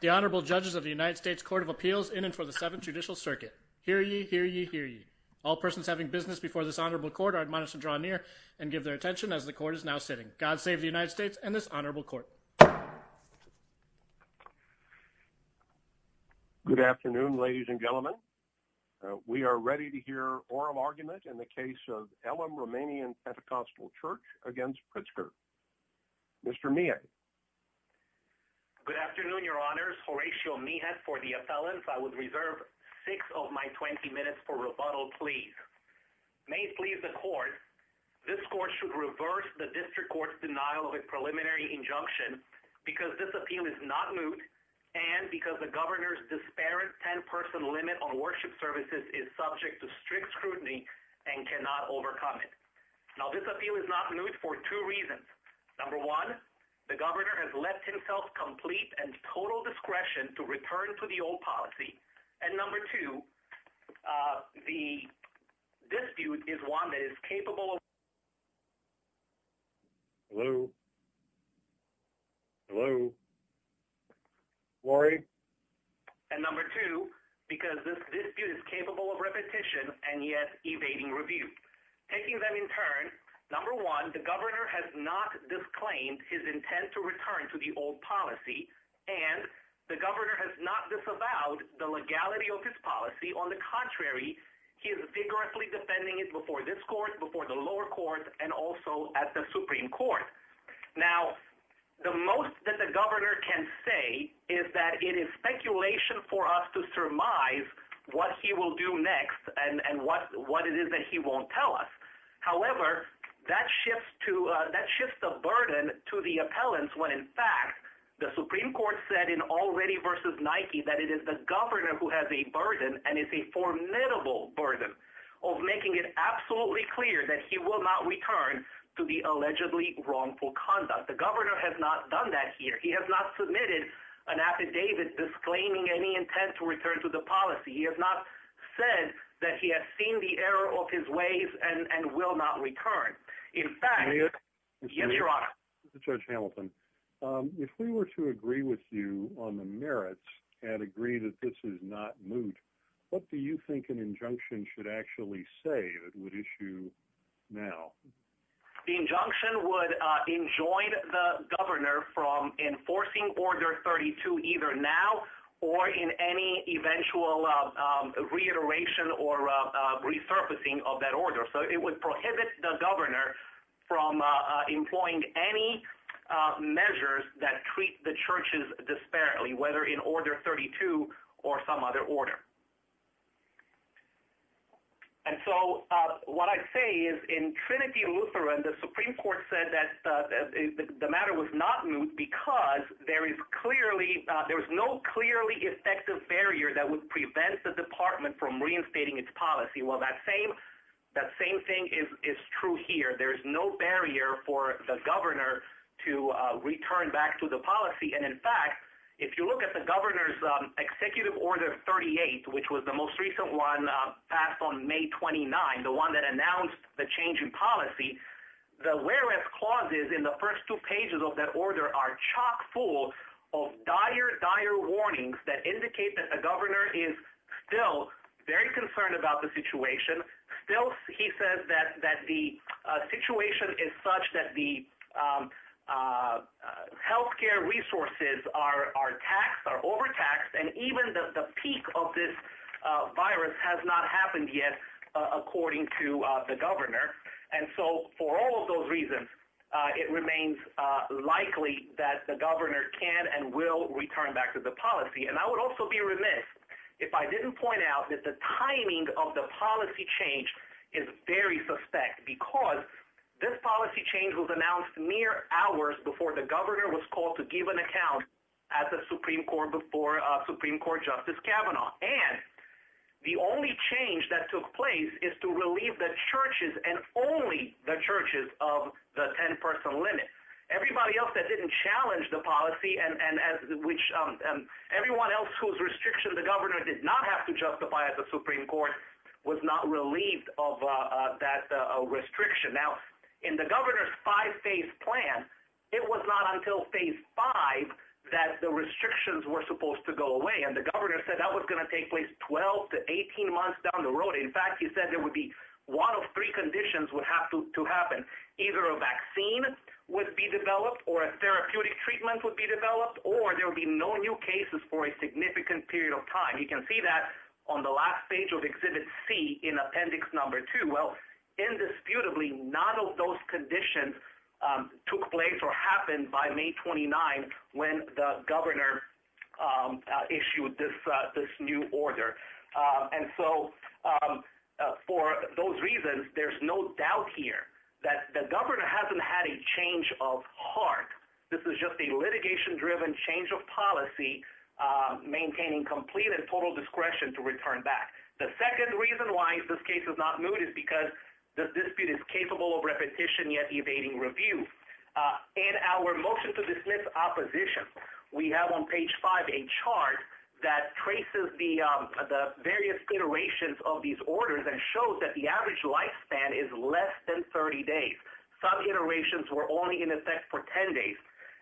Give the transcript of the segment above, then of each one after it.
The Honorable Judges of the United States Court of Appeals in and for the Seventh Judicial Circuit. Hear ye, hear ye, hear ye. All persons having business before this honorable court are admonished to draw near and give their attention as the court is now sitting. God save the United States and this Good afternoon, ladies and gentlemen. We are ready to hear oral argument in the case of Elim Romanian Pentecostal Chur against Pritzker. Mr. Meehan. Good afternoon, your honors. Horatio Meehan for the appellant. I would reserve six of my 20 minutes for rebuttal, please. May it please the court, this court should reverse the district court's denial of a preliminary injunction because this disparate 10-person limit on worship services is subject to strict scrutiny and cannot overcome it. Now, this appeal is not moot for two reasons. Number one, the governor has left himself complete and total discretion to return to the old policy. And number two, the dispute is one that is capable of... Hello? Hello? Laurie? And number two, because this dispute is capable of repetition and yet evading review. Taking them in turn, number one, the governor has not disclaimed his intent to return to the old policy and the governor has not disavowed the legality of his policy. On the contrary, he is vigorously defending it before this court, before the lower court, and also at the Supreme Court. Now, the most that the governor can say is that it is speculation for us to surmise what he will do next and what it is that he won't tell us. However, that shifts the burden to the appellants when, in fact, the Supreme Court said in Already v. Nike that it is the governor who has a burden and it's a formidable burden of making it absolutely clear that he will not return to the allegedly wrongful conduct. The governor has not done that here. He has not submitted an affidavit disclaiming any intent to return to the policy. He has not said that he has seen the error of his ways and will not return. In fact... Yes, Your Honor? Judge Hamilton, if we were to agree with you on the merits and agree that this is not moot, what do you think an injunction should actually say that would issue now? The injunction would enjoin the governor from enforcing Order 32 either now or in any eventual reiteration or resurfacing of that order. So it would prohibit the governor from employing any measures that treat the What I'd say is, in Trinity Lutheran, the Supreme Court said that the matter was not moot because there is no clearly effective barrier that would prevent the department from reinstating its policy. Well, that same thing is true here. There's no barrier for the governor to return back to the policy. And, in fact, if you look at the governor's Executive Order 38, which was the most recent one passed on May 29, the one that announced the change in policy, the wherewith clauses in the first two pages of that order are chock-full of dire, dire warnings that indicate that the governor is still very concerned about the situation. Still, he says that the situation is such that the health care resources are taxed, are overtaxed, and even the peak of this virus has not happened yet, according to the governor. And so, for all of those reasons, it remains likely that the governor can and will return back to the policy. And I would also be remiss if I didn't point out that the timing of the policy change is very suspect because this policy change was announced mere hours before the governor was called to give an account at the Supreme Court before Supreme Court Justice Kavanaugh. And the only change that took place is to relieve the churches, and only the churches, of the 10-person limit. Everybody else that didn't challenge the policy, and everyone else whose restriction the governor did not have to justify at the Supreme Court, was not relieved of that restriction. Now, in the governor's five-phase plan, it was not until phase five that the restrictions were supposed to go away, and the governor said that was going to take place 12 to 18 months down the road. In fact, he said there would be one of three conditions would have to happen. Either a vaccine would be developed, or a therapeutic treatment would be developed, or there will be no new cases for a significant period of time. You can see that on the last page of Exhibit C in appendix number two. Well, indisputably, none of those conditions took place or happened by May 29 when the governor issued this new order. And so, for those reasons, there's no doubt here that the governor hasn't had a change of heart. This is just a litigation-driven change of policy, maintaining complete and total discretion to return back. The dispute is capable of repetition, yet evading review. In our motion to dismiss opposition, we have on page five a chart that traces the various iterations of these orders and shows that the average lifespan is less than 30 days. Some iterations were only in effect for 10 days.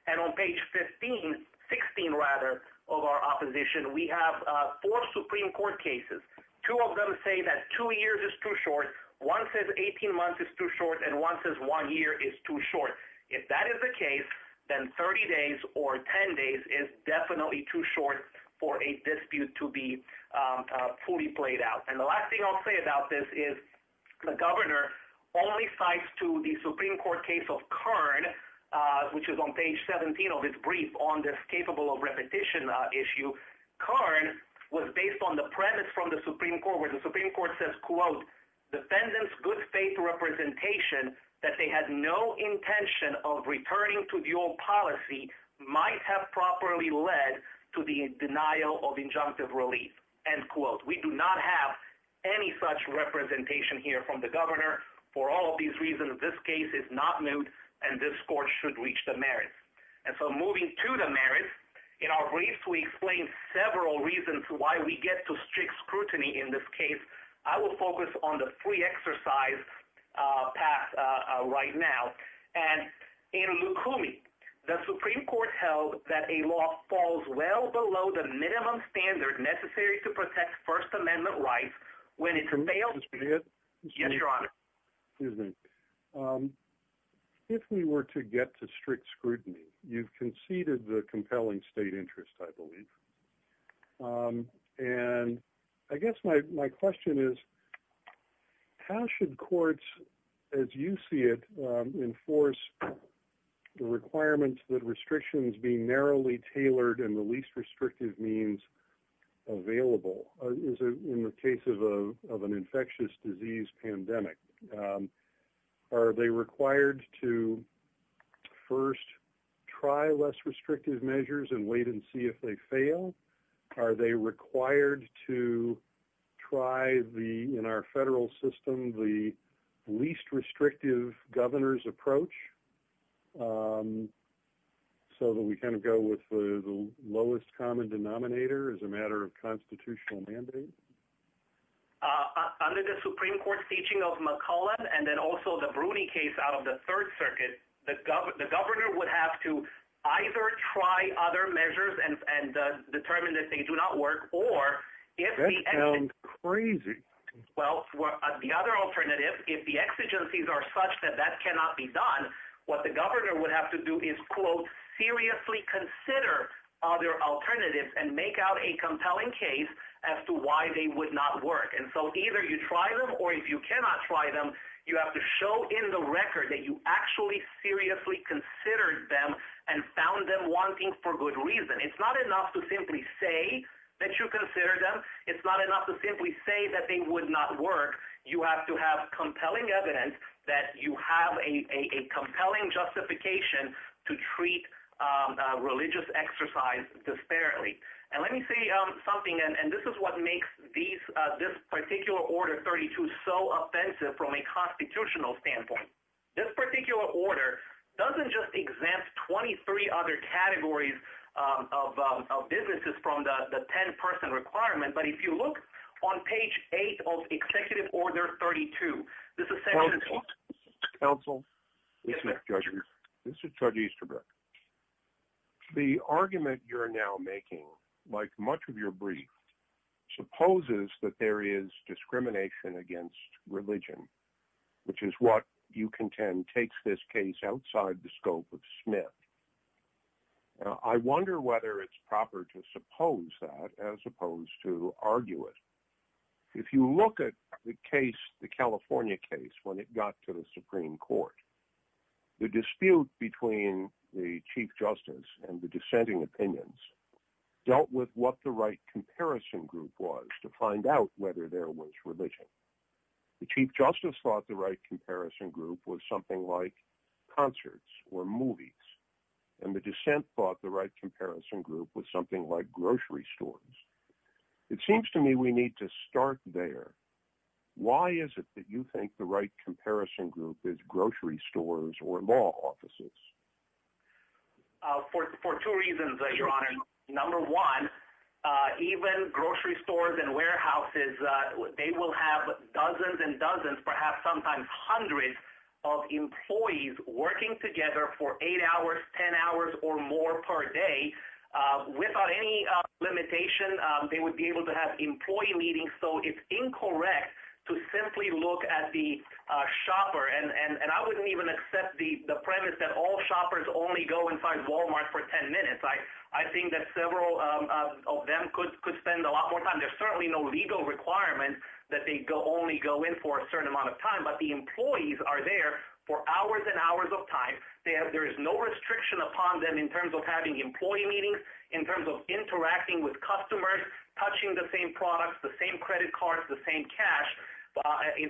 And on page 15, 16 rather, of our opposition, we have four Supreme Court cases. Two of them say that two years is too short, one says 18 months is too short, and one says one year is too short. If that is the case, then 30 days or 10 days is definitely too short for a dispute to be fully played out. And the last thing I'll say about this is the governor only cites to the Supreme Court case of Kern, which is on page 17 of its brief on this capable of repetition issue. Kern was based on the premise from the Supreme Court where the Supreme Court says, quote, defendant's good faith representation that they had no intention of returning to the old policy might have properly led to the denial of injunctive relief, end quote. We do not have any such representation here from the governor for all of these reasons. This case is not moot and this court should reach the merits. And so moving to the merits, in our briefs we explain several reasons why we get to strict scrutiny in this case. I will focus on the free exercise path right now. And in Lukumi, the Supreme Court held that a law falls well below the minimum standard necessary to protect First Amendment rights when it fails. Yes, Your Honor. If we were to get to strict scrutiny, you've conceded the compelling state interest, I believe. And I guess my question is, how should courts, as you see it, enforce the requirements that restrictions be narrowly tailored and the least restrictive means available? In the case of an infectious disease pandemic, are they required to first try less restrictive measures and wait and see if they fail? Are they required to try the, in our federal system, the least restrictive governor's approach so that we kind of go with the lowest common denominator as a matter of constitutional mandate? Under the Supreme Court's teaching of McCulloch and then also the Bruni case out of the Third and determine that they do not work, or if the other alternative, if the exigencies are such that that cannot be done, what the governor would have to do is, quote, seriously consider other alternatives and make out a compelling case as to why they would not work. And so either you try them or if you cannot try them, you have to show in the record that you actually seriously considered them and found them wanting for good reason. It's not enough to simply say that you consider them. It's not enough to simply say that they would not work. You have to have compelling evidence that you have a compelling justification to treat religious exercise disparately. And let me say something, and this is what makes this particular Order 32 so offensive from a constitutional standpoint. This particular order doesn't just exempt 23 other categories of businesses from the 10-person requirement, but if you look on page 8 of Executive Order 32, this is section... Counsel? Yes, Judge. This is Judge Easterbrook. The argument you're now making, like much of your brief, supposes that there is discrimination against religion, which is what you contend takes this case outside the scope of Smith. I wonder whether it's proper to suppose that as opposed to argue it. If you look at the case, the California case, when it got to the Supreme Court, the dispute between the Chief Justice and the dissenting opinions dealt with what the right comparison group was to find out whether there was religion. The Chief Justice thought the right comparison group was something like concerts or movies, and the dissent thought the right comparison group was something like grocery stores. It seems to me we need to start there. Why is it that you think the right comparison group is grocery stores or law offices? For two reasons, Your Honor. Number one, even grocery stores and warehouses, they will have dozens and sometimes hundreds of employees working together for eight hours, ten hours, or more per day. Without any limitation, they would be able to have employee meetings. So it's incorrect to simply look at the shopper, and I wouldn't even accept the premise that all shoppers only go inside Walmart for ten minutes. I think that several of them could spend a lot more time. There's certainly no legal requirement that they only go in for a certain amount of time, but the employees are there for hours and hours of time. There is no restriction upon them in terms of having employee meetings, in terms of interacting with customers, touching the same products, the same credit cards, the same cash.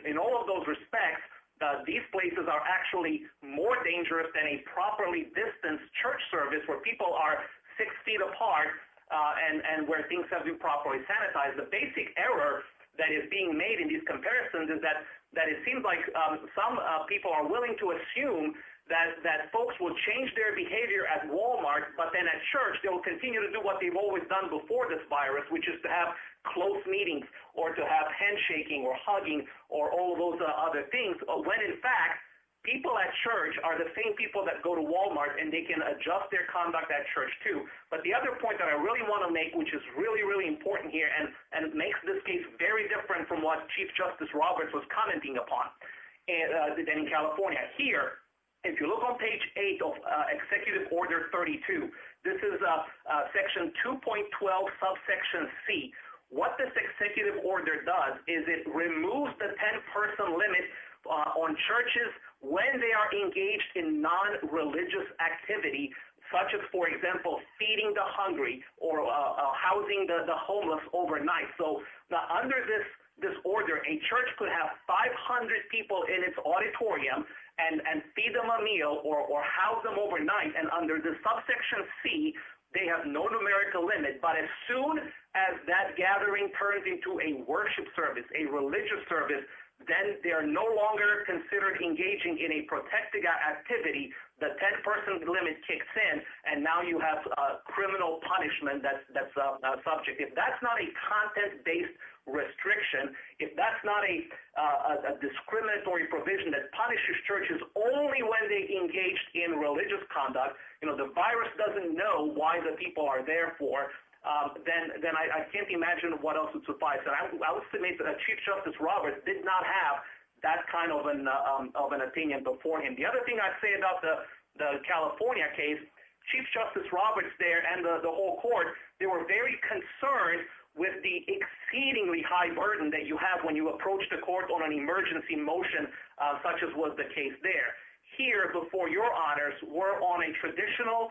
In all of those respects, these places are actually more dangerous than a properly distanced church service where people are six feet apart and where things have been properly sanitized. The basic error that is being made in these comparisons is that it seems like some people are willing to assume that that folks will change their behavior at Walmart, but then at church they'll continue to do what they've always done before this virus, which is to have close meetings, or to have handshaking, or hugging, or all those other things, when in fact people at church are the same people that go to Walmart and they can adjust their conduct at church too. But the other point that I really want to make, which is really, really important here, and it makes this case very different from what Chief Justice Roberts was commenting upon in California. Here, if you look on page 8 of Executive Order 32, this is Section 2.12 Subsection C. What this Executive Order does is it removes the 10-person limit on churches when they are engaged in non-religious activity, such as, for housing the homeless overnight. So under this order, a church could have 500 people in its auditorium and feed them a meal, or house them overnight, and under the Subsection C, they have no numerical limit. But as soon as that gathering turns into a worship service, a religious service, then they are no longer considered engaging in a protected activity. The 10-person limit kicks in, and now you have a criminal punishment that's a subject. If that's not a content-based restriction, if that's not a discriminatory provision that punishes churches only when they engaged in religious conduct, you know, the virus doesn't know why the people are there for, then I can't imagine what else would suffice. And I would estimate that Chief Justice Roberts did not have that kind of an opinion before him. The other thing I'd say about the California case, Chief Justice Roberts there and the whole court, they were very concerned with the exceedingly high burden that you have when you approach the court on an emergency motion such as was the case there. Here, before your honors, we're on a traditional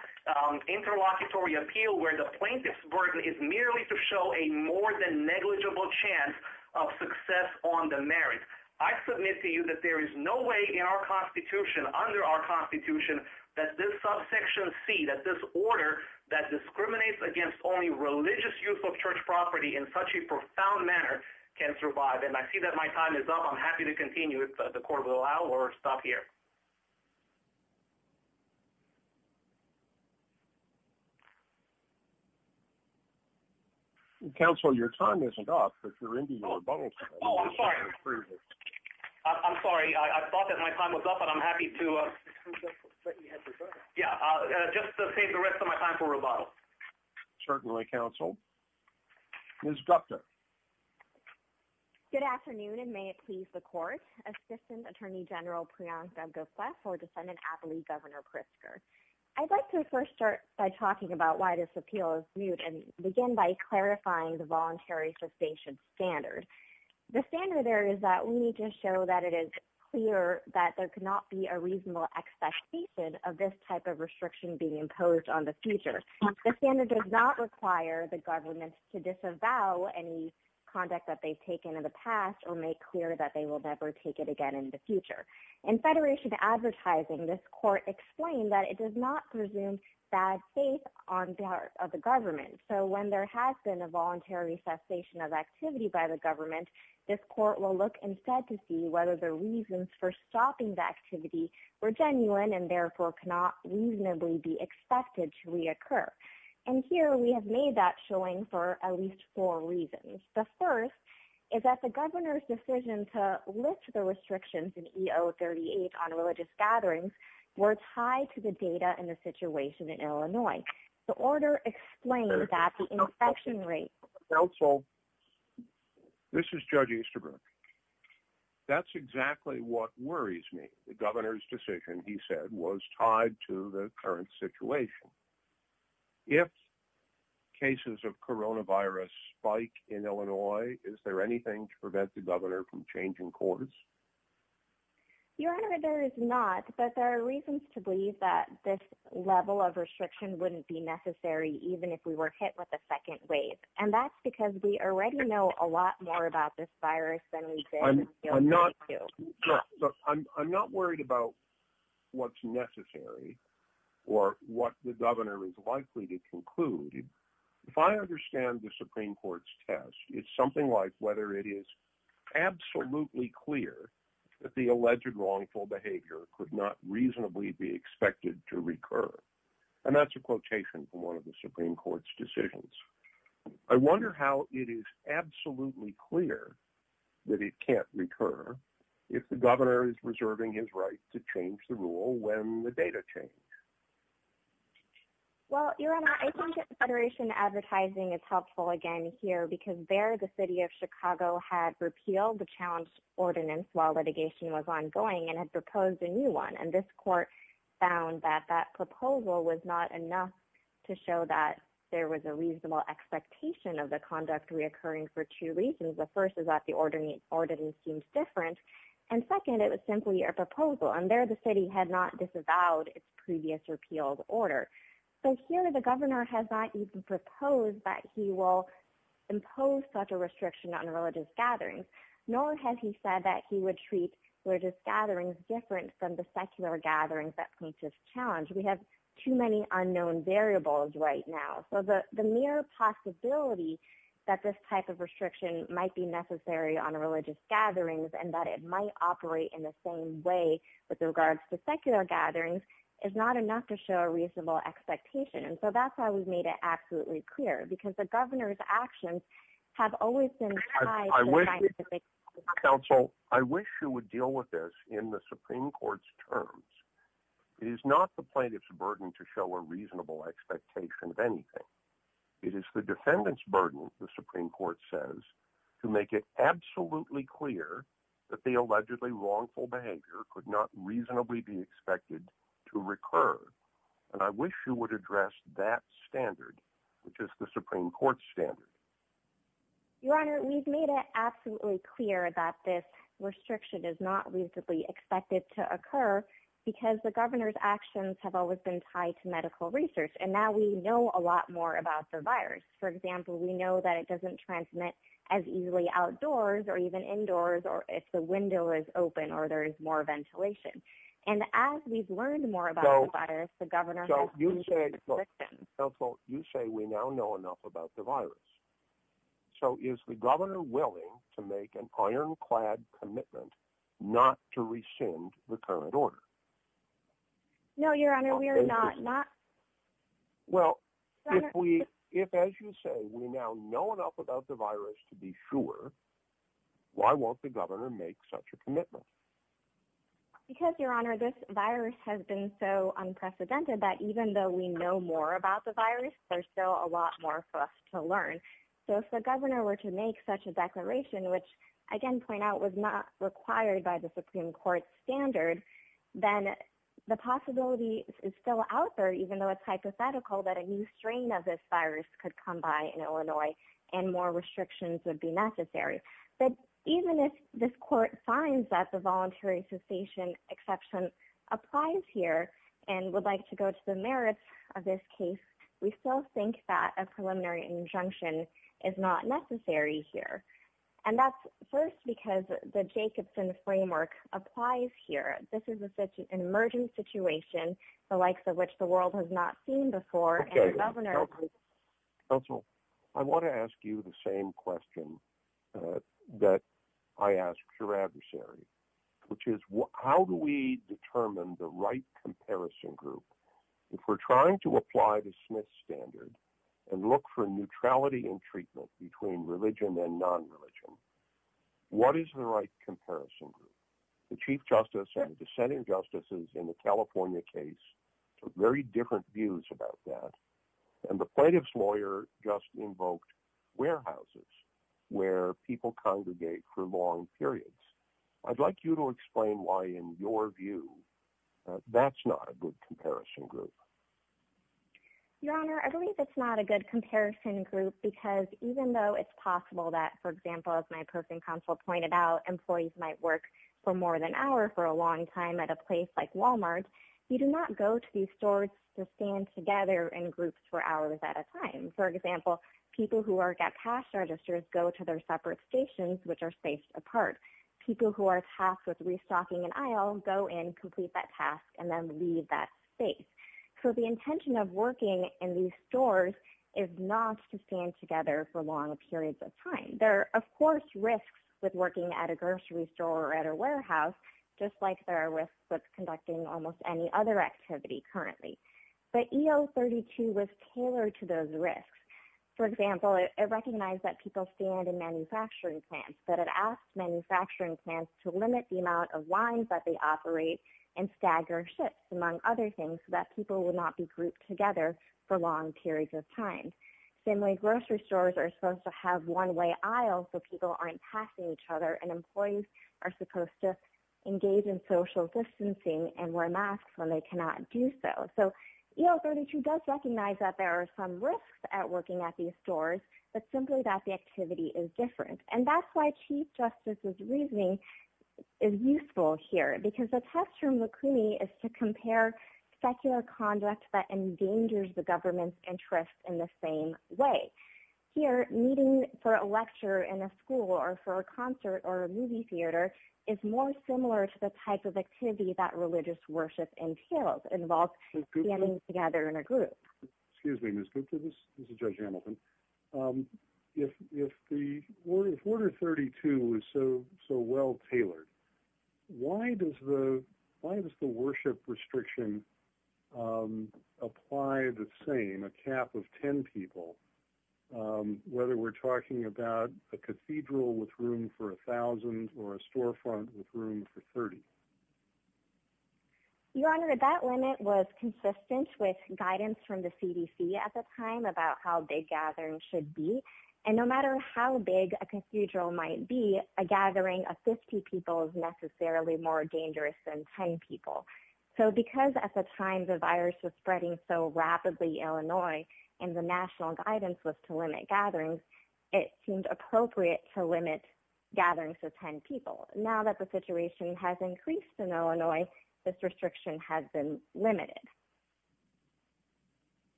interlocutory appeal where the plaintiff's burden is merely to show a more-than-negligible chance of success on the merits. I submit to you that there is no way in our Constitution, under our Constitution, that this subsection C, that this order that discriminates against only religious use of church property in such a profound manner can survive. And I see that my time is up. I'm happy to continue if the court will allow or stop here. Counsel, your time isn't up. Oh, I'm sorry. I'm sorry. I thought that my time was up, but I'm happy to, yeah, just to save the rest of my time for rebuttal. Certainly, Counsel. Ms. Gupta. Good afternoon, and may it please the court, Assistant Attorney General Priyansh Devgopalas or Defendant Atlee Governor Pritzker. I'd like to first start by talking about why this appeal is moot and begin by clarifying the Voluntary Substation Standard. The standard there is that we need to show that it is clear that there could not be a reasonable expectation of this type of restriction being imposed on the future. The standard does not require the government to disavow any conduct that they've taken in the past or make clear that they will never take it again in the future. In Federation advertising, this court explained that it does not presume bad faith on behalf of the government, so when there has been a voluntary cessation of activity by the the reasons for stopping the activity were genuine and therefore cannot reasonably be expected to reoccur, and here we have made that showing for at least four reasons. The first is that the governor's decision to lift the restrictions in EO 38 on religious gatherings were tied to the data and the situation in Illinois. The order explains that the inspection rate... Counsel, this is Judge Easterbrook. That's exactly what worries me. The governor's decision, he said, was tied to the current situation. If cases of coronavirus spike in Illinois, is there anything to prevent the governor from changing courts? Your Honor, there is not, but there are reasons to believe that this level of restriction wouldn't be necessary even if we were hit with a second wave, and that's because we already know a lot more about this virus. I'm not worried about what's necessary or what the governor is likely to conclude. If I understand the Supreme Court's test, it's something like whether it is absolutely clear that the alleged wrongful behavior could not reasonably be expected to occur. I wonder how it is absolutely clear that it can't recur if the governor is reserving his right to change the rule when the data change. Well, Your Honor, I think Federation Advertising is helpful again here because there the city of Chicago had repealed the challenge ordinance while litigation was ongoing and had proposed a new one, and this court found that that proposal was not enough to show that there was a reasonable expectation of the conduct reoccurring for two reasons. The first is that the ordinance seems different, and second, it was simply a proposal, and there the city had not disavowed its previous repealed order. So here the governor has not even proposed that he will impose such a restriction on religious gatherings, nor has he said that he would treat religious gatherings different from the secular gatherings that face this challenge. We have too many unknown variables right now, so the mere possibility that this type of restriction might be necessary on religious gatherings and that it might operate in the same way with regards to secular gatherings is not enough to show a reasonable expectation, and so that's why we've made it absolutely clear, because the governor's actions have always been tied to scientific... I wish you would deal with this in the Supreme Court's terms. It is not the plaintiff's burden to show a reasonable expectation of anything. It is the defendant's burden, the Supreme Court says, to make it absolutely clear that the allegedly wrongful behavior could not reasonably be expected to recur, and I wish you would address that standard, which is the Supreme Court standard. Your Honor, we've made it absolutely clear that this because the governor's actions have always been tied to medical research, and now we know a lot more about the virus. For example, we know that it doesn't transmit as easily outdoors or even indoors, or if the window is open or there is more ventilation, and as we've learned more about the virus, the governor has... So you say we now know enough about the virus, so is the current order? No, Your Honor, we are not... Well, if, as you say, we now know enough about the virus to be sure, why won't the governor make such a commitment? Because, Your Honor, this virus has been so unprecedented that even though we know more about the virus, there's still a lot more for us to learn. So if the governor were to make such a declaration, which, I can point out, was not required by the Supreme Court standard, then the possibility is still out there, even though it's hypothetical that a new strain of this virus could come by in Illinois and more restrictions would be necessary. But even if this court finds that the voluntary cessation exception applies here and would like to go to the merits of this case, we still think that a preliminary injunction is not necessary here. And that's first because the Jacobson framework applies here. This is an emergent situation, the likes of which the world has not seen before, and the governor... Counsel, I want to ask you the same question that I asked your adversary, which is, how do we determine the right comparison group? If we're trying to apply the Smith standard and look for a neutrality in treatment between religion and non-religion, what is the right comparison group? The Chief Justice and dissenting justices in the California case took very different views about that, and the plaintiff's lawyer just invoked warehouses where people congregate for long periods. I'd like you to explain why, in your view, that's not a good comparison group. Your Honor, I don't think it's a good comparison group because even though it's possible that, for example, as my personal counsel pointed out, employees might work for more than an hour for a long time at a place like Walmart, you do not go to these stores to stand together in groups for hours at a time. For example, people who work at cash registers go to their separate stations, which are spaced apart. People who are tasked with restocking an aisle go in, complete that space. So the intention of working in these stores is not to stand together for long periods of time. There are, of course, risks with working at a grocery store or at a warehouse, just like there are risks with conducting almost any other activity currently. But EO 32 was tailored to those risks. For example, it recognized that people stand in manufacturing plants, but it asked manufacturing plants to limit the amount of wines that they operate in staggered among other things so that people will not be grouped together for long periods of time. Similarly, grocery stores are supposed to have one-way aisles so people aren't passing each other, and employees are supposed to engage in social distancing and wear masks when they cannot do so. So EO 32 does recognize that there are some risks at working at these stores, but simply that the activity is different. And that's why Chief Justice's reasoning is useful here, because the test from Lacrimi is to compare secular conduct that endangers the government's interests in the same way. Here, meeting for a lecture in a school or for a concert or a movie theater is more similar to the type of activity that religious worship entails. It involves standing together in a group. Excuse me, Ms. Gupta, this is Judge Hamilton. If Order 32 is so well tailored, why does the worship restriction apply the same, a cap of 10 people, whether we're talking about a cathedral with room for a thousand or a storefront with room for 30? Your Honor, that limit was consistent with guidance from the CDC at the time about how big gatherings should be, and no matter how big a cathedral might be, a gathering of 50 people is necessarily more dangerous than 10 people. So because at the time the virus was spreading so rapidly, Illinois, and the national guidance was to limit gatherings, it seemed appropriate to limit gatherings to 10 people. Now that the situation has increased in Illinois, this restriction has been limited.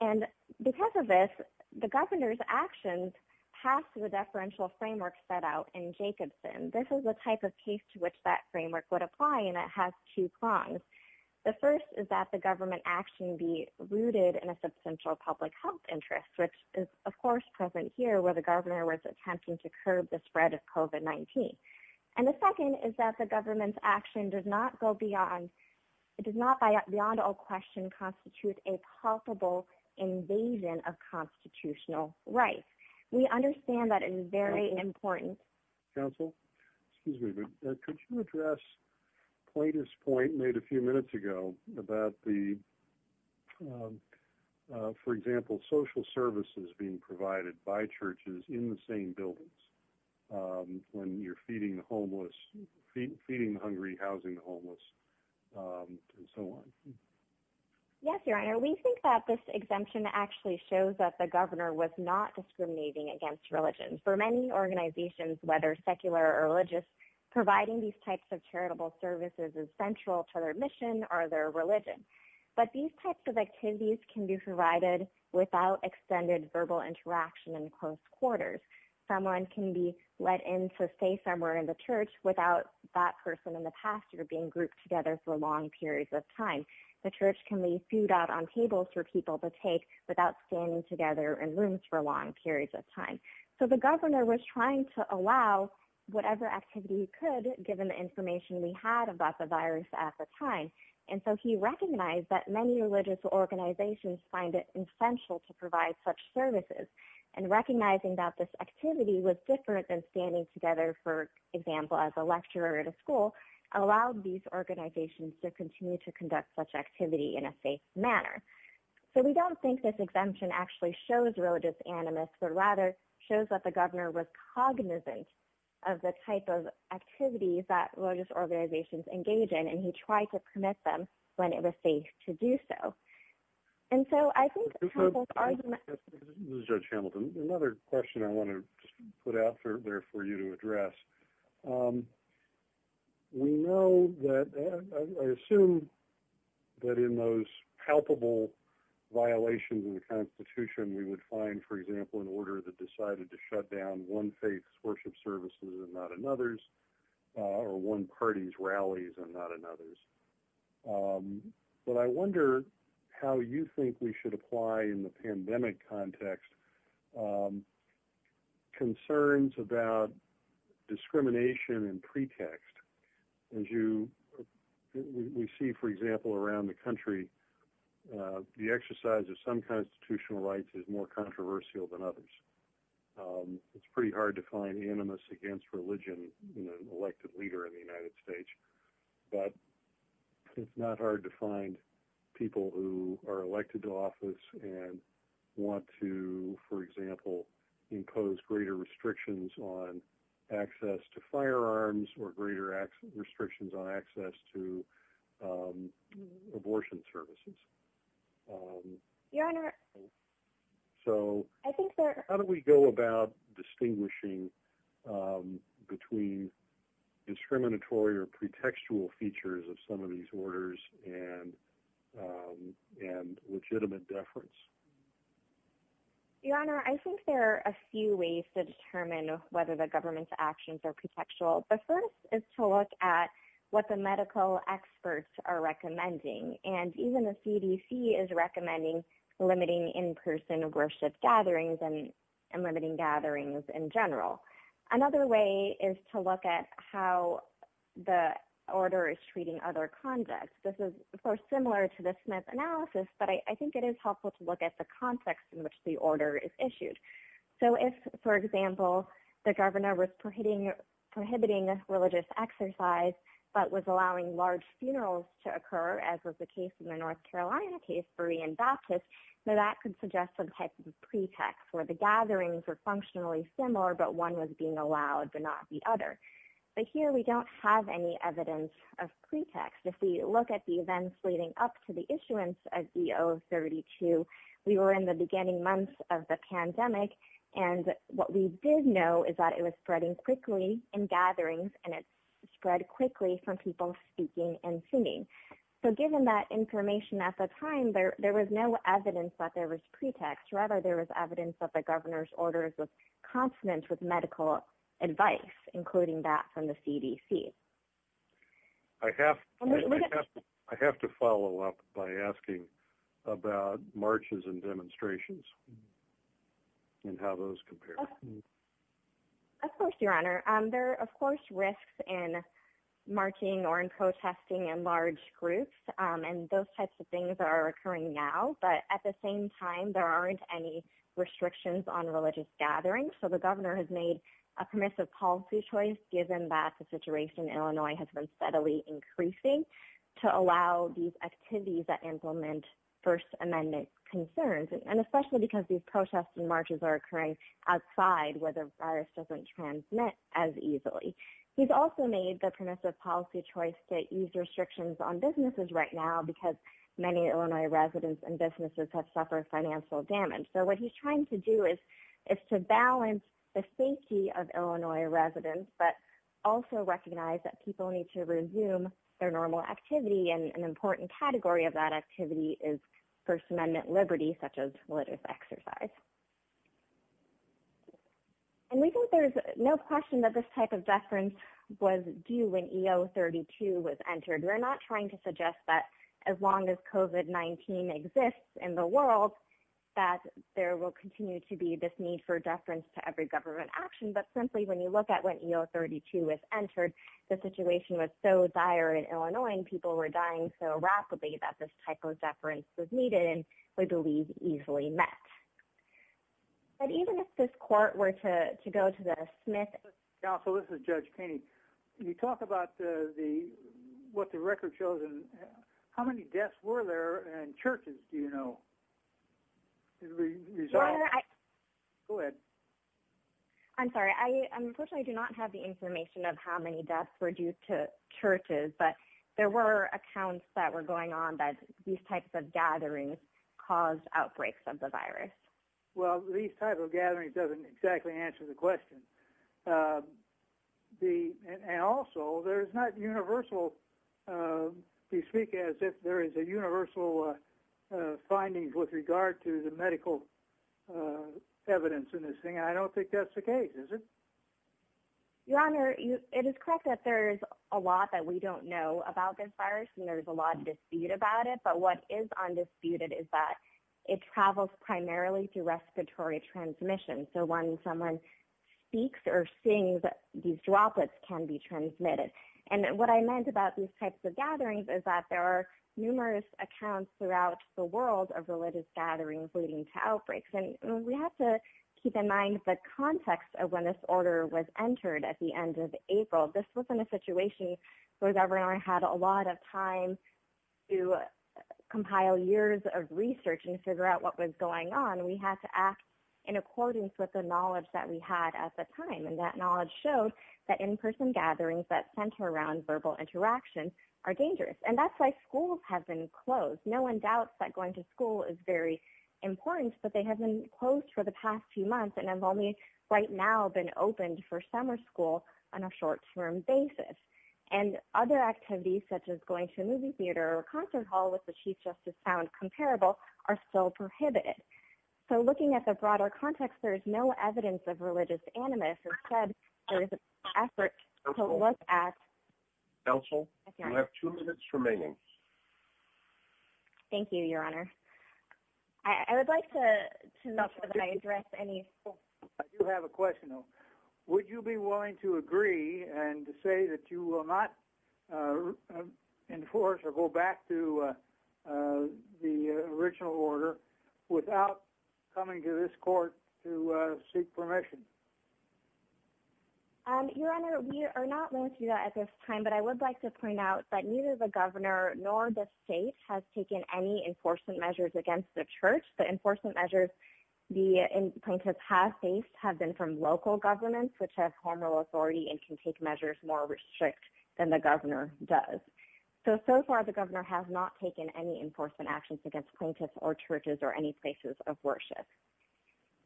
And because of this, the governor's actions pass the deferential framework set out in Jacobson. This is the type of case to which that framework would apply, and it has two prongs. The first is that the government action be rooted in a substantial public health interest, which is, of course, present here where the governor was attempting to curb the spread of COVID-19. And the second is that the government's action does not go beyond, it does not, beyond all question, constitute a palpable invasion of constitutional rights. We understand that it is very important. Council, excuse me, but could you address Plater's point made a few minutes ago about the, for example, social services being provided by churches in the same buildings when you're feeding the homeless, feeding the hungry, housing the homeless, and so on. Yes, Your Honor, we think that this exemption actually shows that the governor was not discriminating against religion. For many organizations, whether secular or religious, providing these types of charitable services is central to their mission or their religion. But these types of activities can be provided without extended verbal interaction in close quarters. Someone can be let in to stay somewhere in the church without that person in the past year being grouped together for long periods of time. The church can leave food out on tables for people to take without standing together in rooms for long periods of time. So the governor was trying to allow whatever activity he could given the information we had about the virus at the time. And so he recognized that many religious organizations find it essential to provide such services. And recognizing that this activity was different than standing together, for example, as a lecturer at a school, allowed these organizations to continue to conduct such activity in a safe manner. So we don't think this exemption actually shows religious animus, but rather shows that the governor was cognizant of the type of activities that religious organizations engage in, and he tried to commit them when it was safe to do so. And so I think this is Judge Hamilton. Another question I want to put out there for you to address. We know that I assume that in those palpable violations in the Constitution, we would find, for example, an order that decided to shut down one faith's worship services and not another's, or one party's rallies and not one religious organization's. I'm not sure why in the pandemic context, concerns about discrimination and pretext. As you, we see, for example, around the country, the exercise of some constitutional rights is more controversial than others. It's pretty hard to find animus against religion in and want to, for example, impose greater restrictions on access to firearms or greater restrictions on access to abortion services. Your Honor. So I think that how do we go about distinguishing between discriminatory or pretextual features of some of these orders and and legitimate deference? Your Honor, I think there are a few ways to determine whether the government's actions are pretextual. The first is to look at what the medical experts are recommending, and even the CDC is recommending limiting in person worship gatherings and limiting gatherings in general. Another way is to look at how the order is treating other conducts. This is similar to the Smith analysis, but I think it is helpful to look at the context in which the order is issued. So if, for example, the governor was prohibiting prohibiting religious exercise, but was allowing large funerals to occur, as was the case in the North Carolina case for Ian Baptist, that could suggest some type of pretext where the gatherings are functionally similar, but one was being allowed, but the other. But here we don't have any evidence of pretext. If we look at the events leading up to the issuance of EO 32, we were in the beginning months of the pandemic. And what we did know is that it was spreading quickly in gatherings, and it spread quickly from people speaking and singing. So given that information at the time there, there was no evidence that there was pretext. Rather, there was evidence of the governor's orders of confidence with including that from the CDC. I have, I have to follow up by asking about marches and demonstrations and how those compare. Of course, Your Honor, there are, of course, risks in marching or in protesting and large groups. And those types of things are occurring now. But at the same time, there aren't any restrictions on religious gatherings. So the governor has made a permissive policy choice, given that the situation in Illinois has been steadily increasing to allow these activities that implement First Amendment concerns, and especially because these protests and marches are occurring outside where the virus doesn't transmit as easily. He's also made the permissive policy choice to ease restrictions on businesses right now because many Illinois residents and businesses have suffered financial damage. So what he's trying to do is, is to balance the safety of Illinois residents, but also recognize that people need to resume their normal activity. And an important category of that activity is First Amendment liberty, such as religious exercise. And we think there's no question that this type of deference was due when EO 32 was entered. We're not trying to suggest that as long as COVID-19 exists in the world, that there will continue to be this need for deference to every government action. But simply when you look at when EO 32 was entered, the situation was so dire in Illinois, and people were dying so rapidly that this type of deference was needed, and we believe easily met. But even if this court were to go to the Smith Council, this is Judge Keeney. You talk about the what the record shows and how many deaths were there and churches, do you know? Go ahead. I'm sorry, I unfortunately do not have the information of how many deaths were due to churches. But there were accounts that were going on that these types of gatherings caused outbreaks of the virus. Well, these type of gatherings doesn't exactly answer the question. The and also there's not universal. We speak as if there is a universal findings with regard to the medical evidence in this thing. I don't think that's the case, is it? Your Honor, it is correct that there's a lot that we don't know about this virus. And there's a lot of dispute about it. But what is undisputed is that it travels primarily through respiratory transmission. So when someone speaks or sings, these droplets can be transmitted. And what I meant about these types of gatherings is that there are numerous accounts throughout the world of religious gatherings leading to outbreaks. And we have to keep in mind the context of when this order was entered at the end of April. This wasn't a situation where the governor had a lot of time to compile years of research and figure out what was going on. We had to act in accordance with the knowledge that we had at the time. And that knowledge showed that in-person gatherings that center around verbal interaction are dangerous. And that's why schools have been closed. No one doubts that going to school is very important, but they have been closed for the past few months and have only right now been opened for summer school on a short term basis. And other activities such as going to a movie theater or a restaurant, which I found comparable, are still prohibited. So looking at the broader context, there's no evidence of religious animus. Instead, there is an effort to look at... Counsel, you have two minutes remaining. Thank you, Your Honor. I would like to know whether I addressed any... I do have a question, though. Would you be willing to agree and say that you will not enforce or go back to the original order without coming to this court to seek permission? Your Honor, we are not willing to do that at this time. But I would like to point out that neither the governor nor the state has taken any enforcement measures against the church. The enforcement measures the plaintiffs have faced have been from local governments, which have hormonal authority and can take measures more strict than the governor does. So, so far, the governor has not taken any enforcement actions against plaintiffs or churches or any places of worship.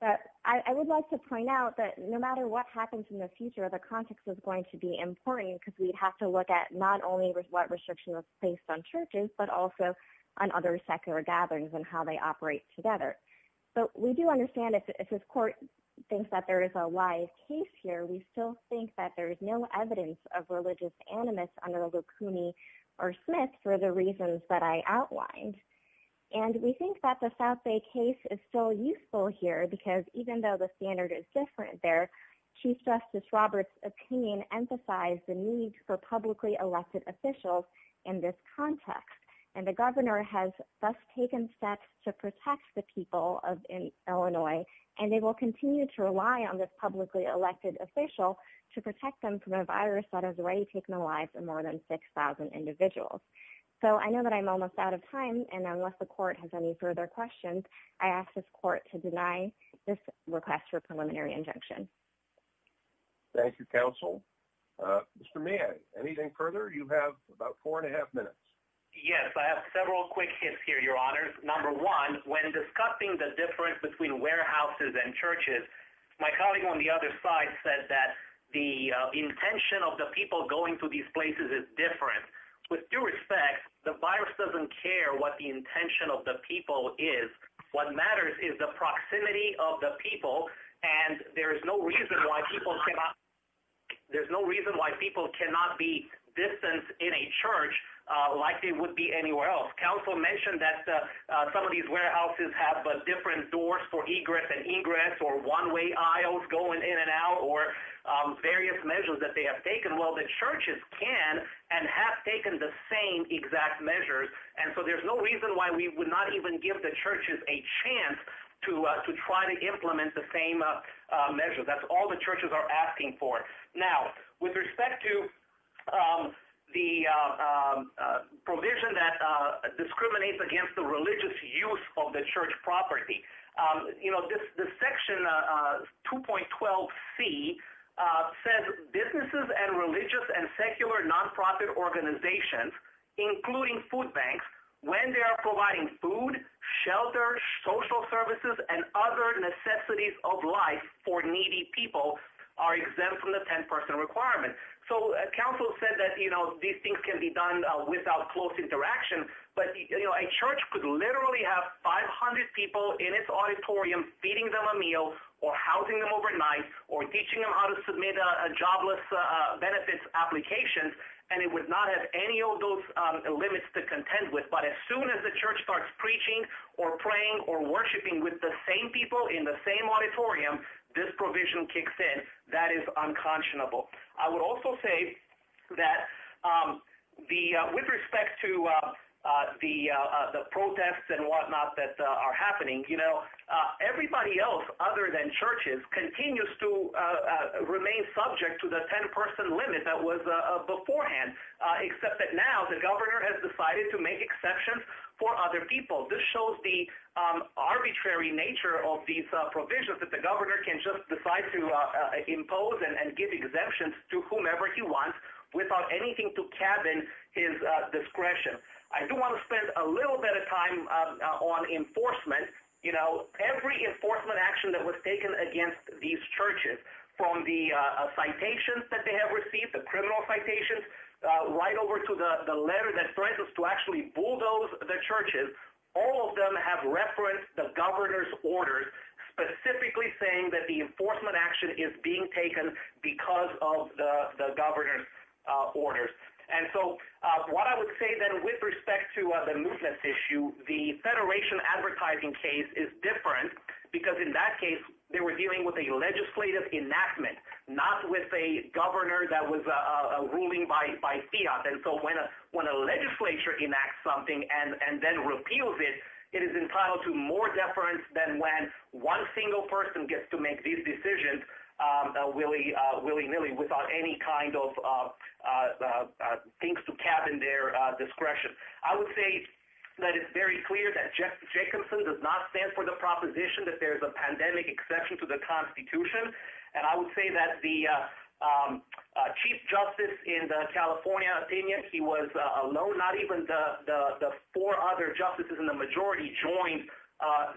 But I would like to point out that no matter what happens in the future, the context is going to be important because we'd have to look at not only what restriction was placed on churches, but also on other secular gatherings and how they operate together. So we do understand if this court thinks that there is a wise case here, we still think that there is no evidence of religious animus under Locuni or Smith for the reasons that I outlined. And we think that the South Bay case is still useful here because even though the standard is different there, Chief Justice Roberts' opinion emphasized the need for publicly elected officials in this context. And the governor has thus taken steps to protect the people of Illinois, and they will continue to rely on this publicly elected official to protect them from a virus that has already taken the lives of more than 6,000 individuals. So I know that I'm almost out of time, and unless the court has any further questions, I ask this court to deny this request for preliminary injunction. Thank you, counsel. Mr. May, anything further? You have about four and a half minutes. Yes, I have several quick hits here, Your Honors. Number one, when discussing the difference between warehouses and churches, my colleague on the other side said that the intention of the people going to these places is different. With due respect, the virus doesn't care what the intention of the people is. What matters is the proximity of the people, and there is no reason why people cannot be distanced in a church like it would be anywhere else. Counsel mentioned that some of these warehouses have different doors for egress and ingress, or one-way aisles going in and out, or various measures that they have taken. Well, the churches can and have taken the same exact measures, and so there's no reason why we would not even give the churches a chance to try to implement the same measures. That's all the churches are discriminates against the religious use of the church property. You know, the section 2.12c says, businesses and religious and secular nonprofit organizations, including food banks, when they are providing food, shelter, social services, and other necessities of life for needy people, are exempt from the 10 person requirement. So counsel said that, you know, these things can be done without close interaction, but you know, a church could literally have 500 people in its auditorium feeding them a meal, or housing them overnight, or teaching them how to submit a jobless benefits application, and it would not have any of those limits to contend with. But as soon as the church starts preaching, or praying, or worshiping with the same people in the same auditorium, this With respect to the protests and whatnot that are happening, you know, everybody else other than churches continues to remain subject to the 10 person limit that was beforehand, except that now the governor has decided to make exceptions for other people. This shows the arbitrary nature of these provisions that the governor can just decide to impose and give exemptions to whomever he wants, without anything to cabin his discretion. I do want to spend a little bit of time on enforcement. You know, every enforcement action that was taken against these churches, from the citations that they have received, the criminal citations, right over to the letter that threatens to actually bulldoze the churches, all of them have referenced the governor's orders, specifically saying that the enforcement action is being taken because of the governor's orders. And so what I would say then, with respect to the movement issue, the federation advertising case is different, because in that case they were dealing with a legislative enactment, not with a governor that was ruling by fiat. And so when a legislature enacts something and then repeals it, it is entitled to more deference than when one single person gets to make these decisions willy-nilly, without any kind of things to cabin their discretion. I would say that it's very clear that Jacobson does not stand for the proposition that there's a pandemic exception to the Constitution, and I would say that the chief justice in the California opinion, he was alone, not even the four other justices in the majority joined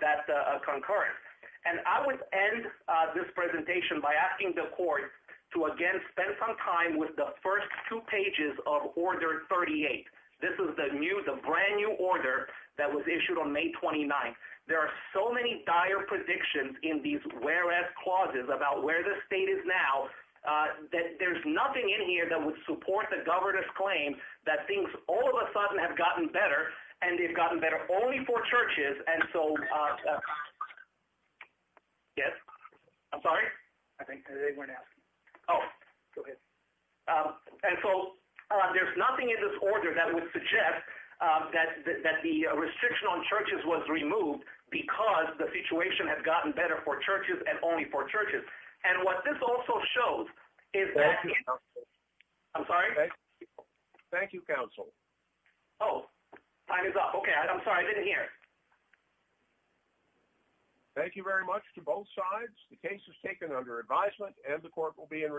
that concurrence. And I would end this presentation by asking the court to again spend some time with the first two pages of Order 38. This is the new, the brand new order that was issued on May 29th. There are so many dire predictions in these whereas clauses about where the state is now, that there's nothing in here that would support the governor's claim that things all of a sudden have gotten better, and Yes? I'm sorry? I think they weren't asking. Oh, go ahead. And so there's nothing in this order that would suggest that the restriction on churches was removed because the situation has gotten better for churches and only for churches. And what this also shows is that... I'm sorry? Thank you, counsel. Oh, time is up. Okay, I'm sorry, I didn't hear. Thank you very much to both sides. The case is taken under advisement and the court will be in recess. Thank you.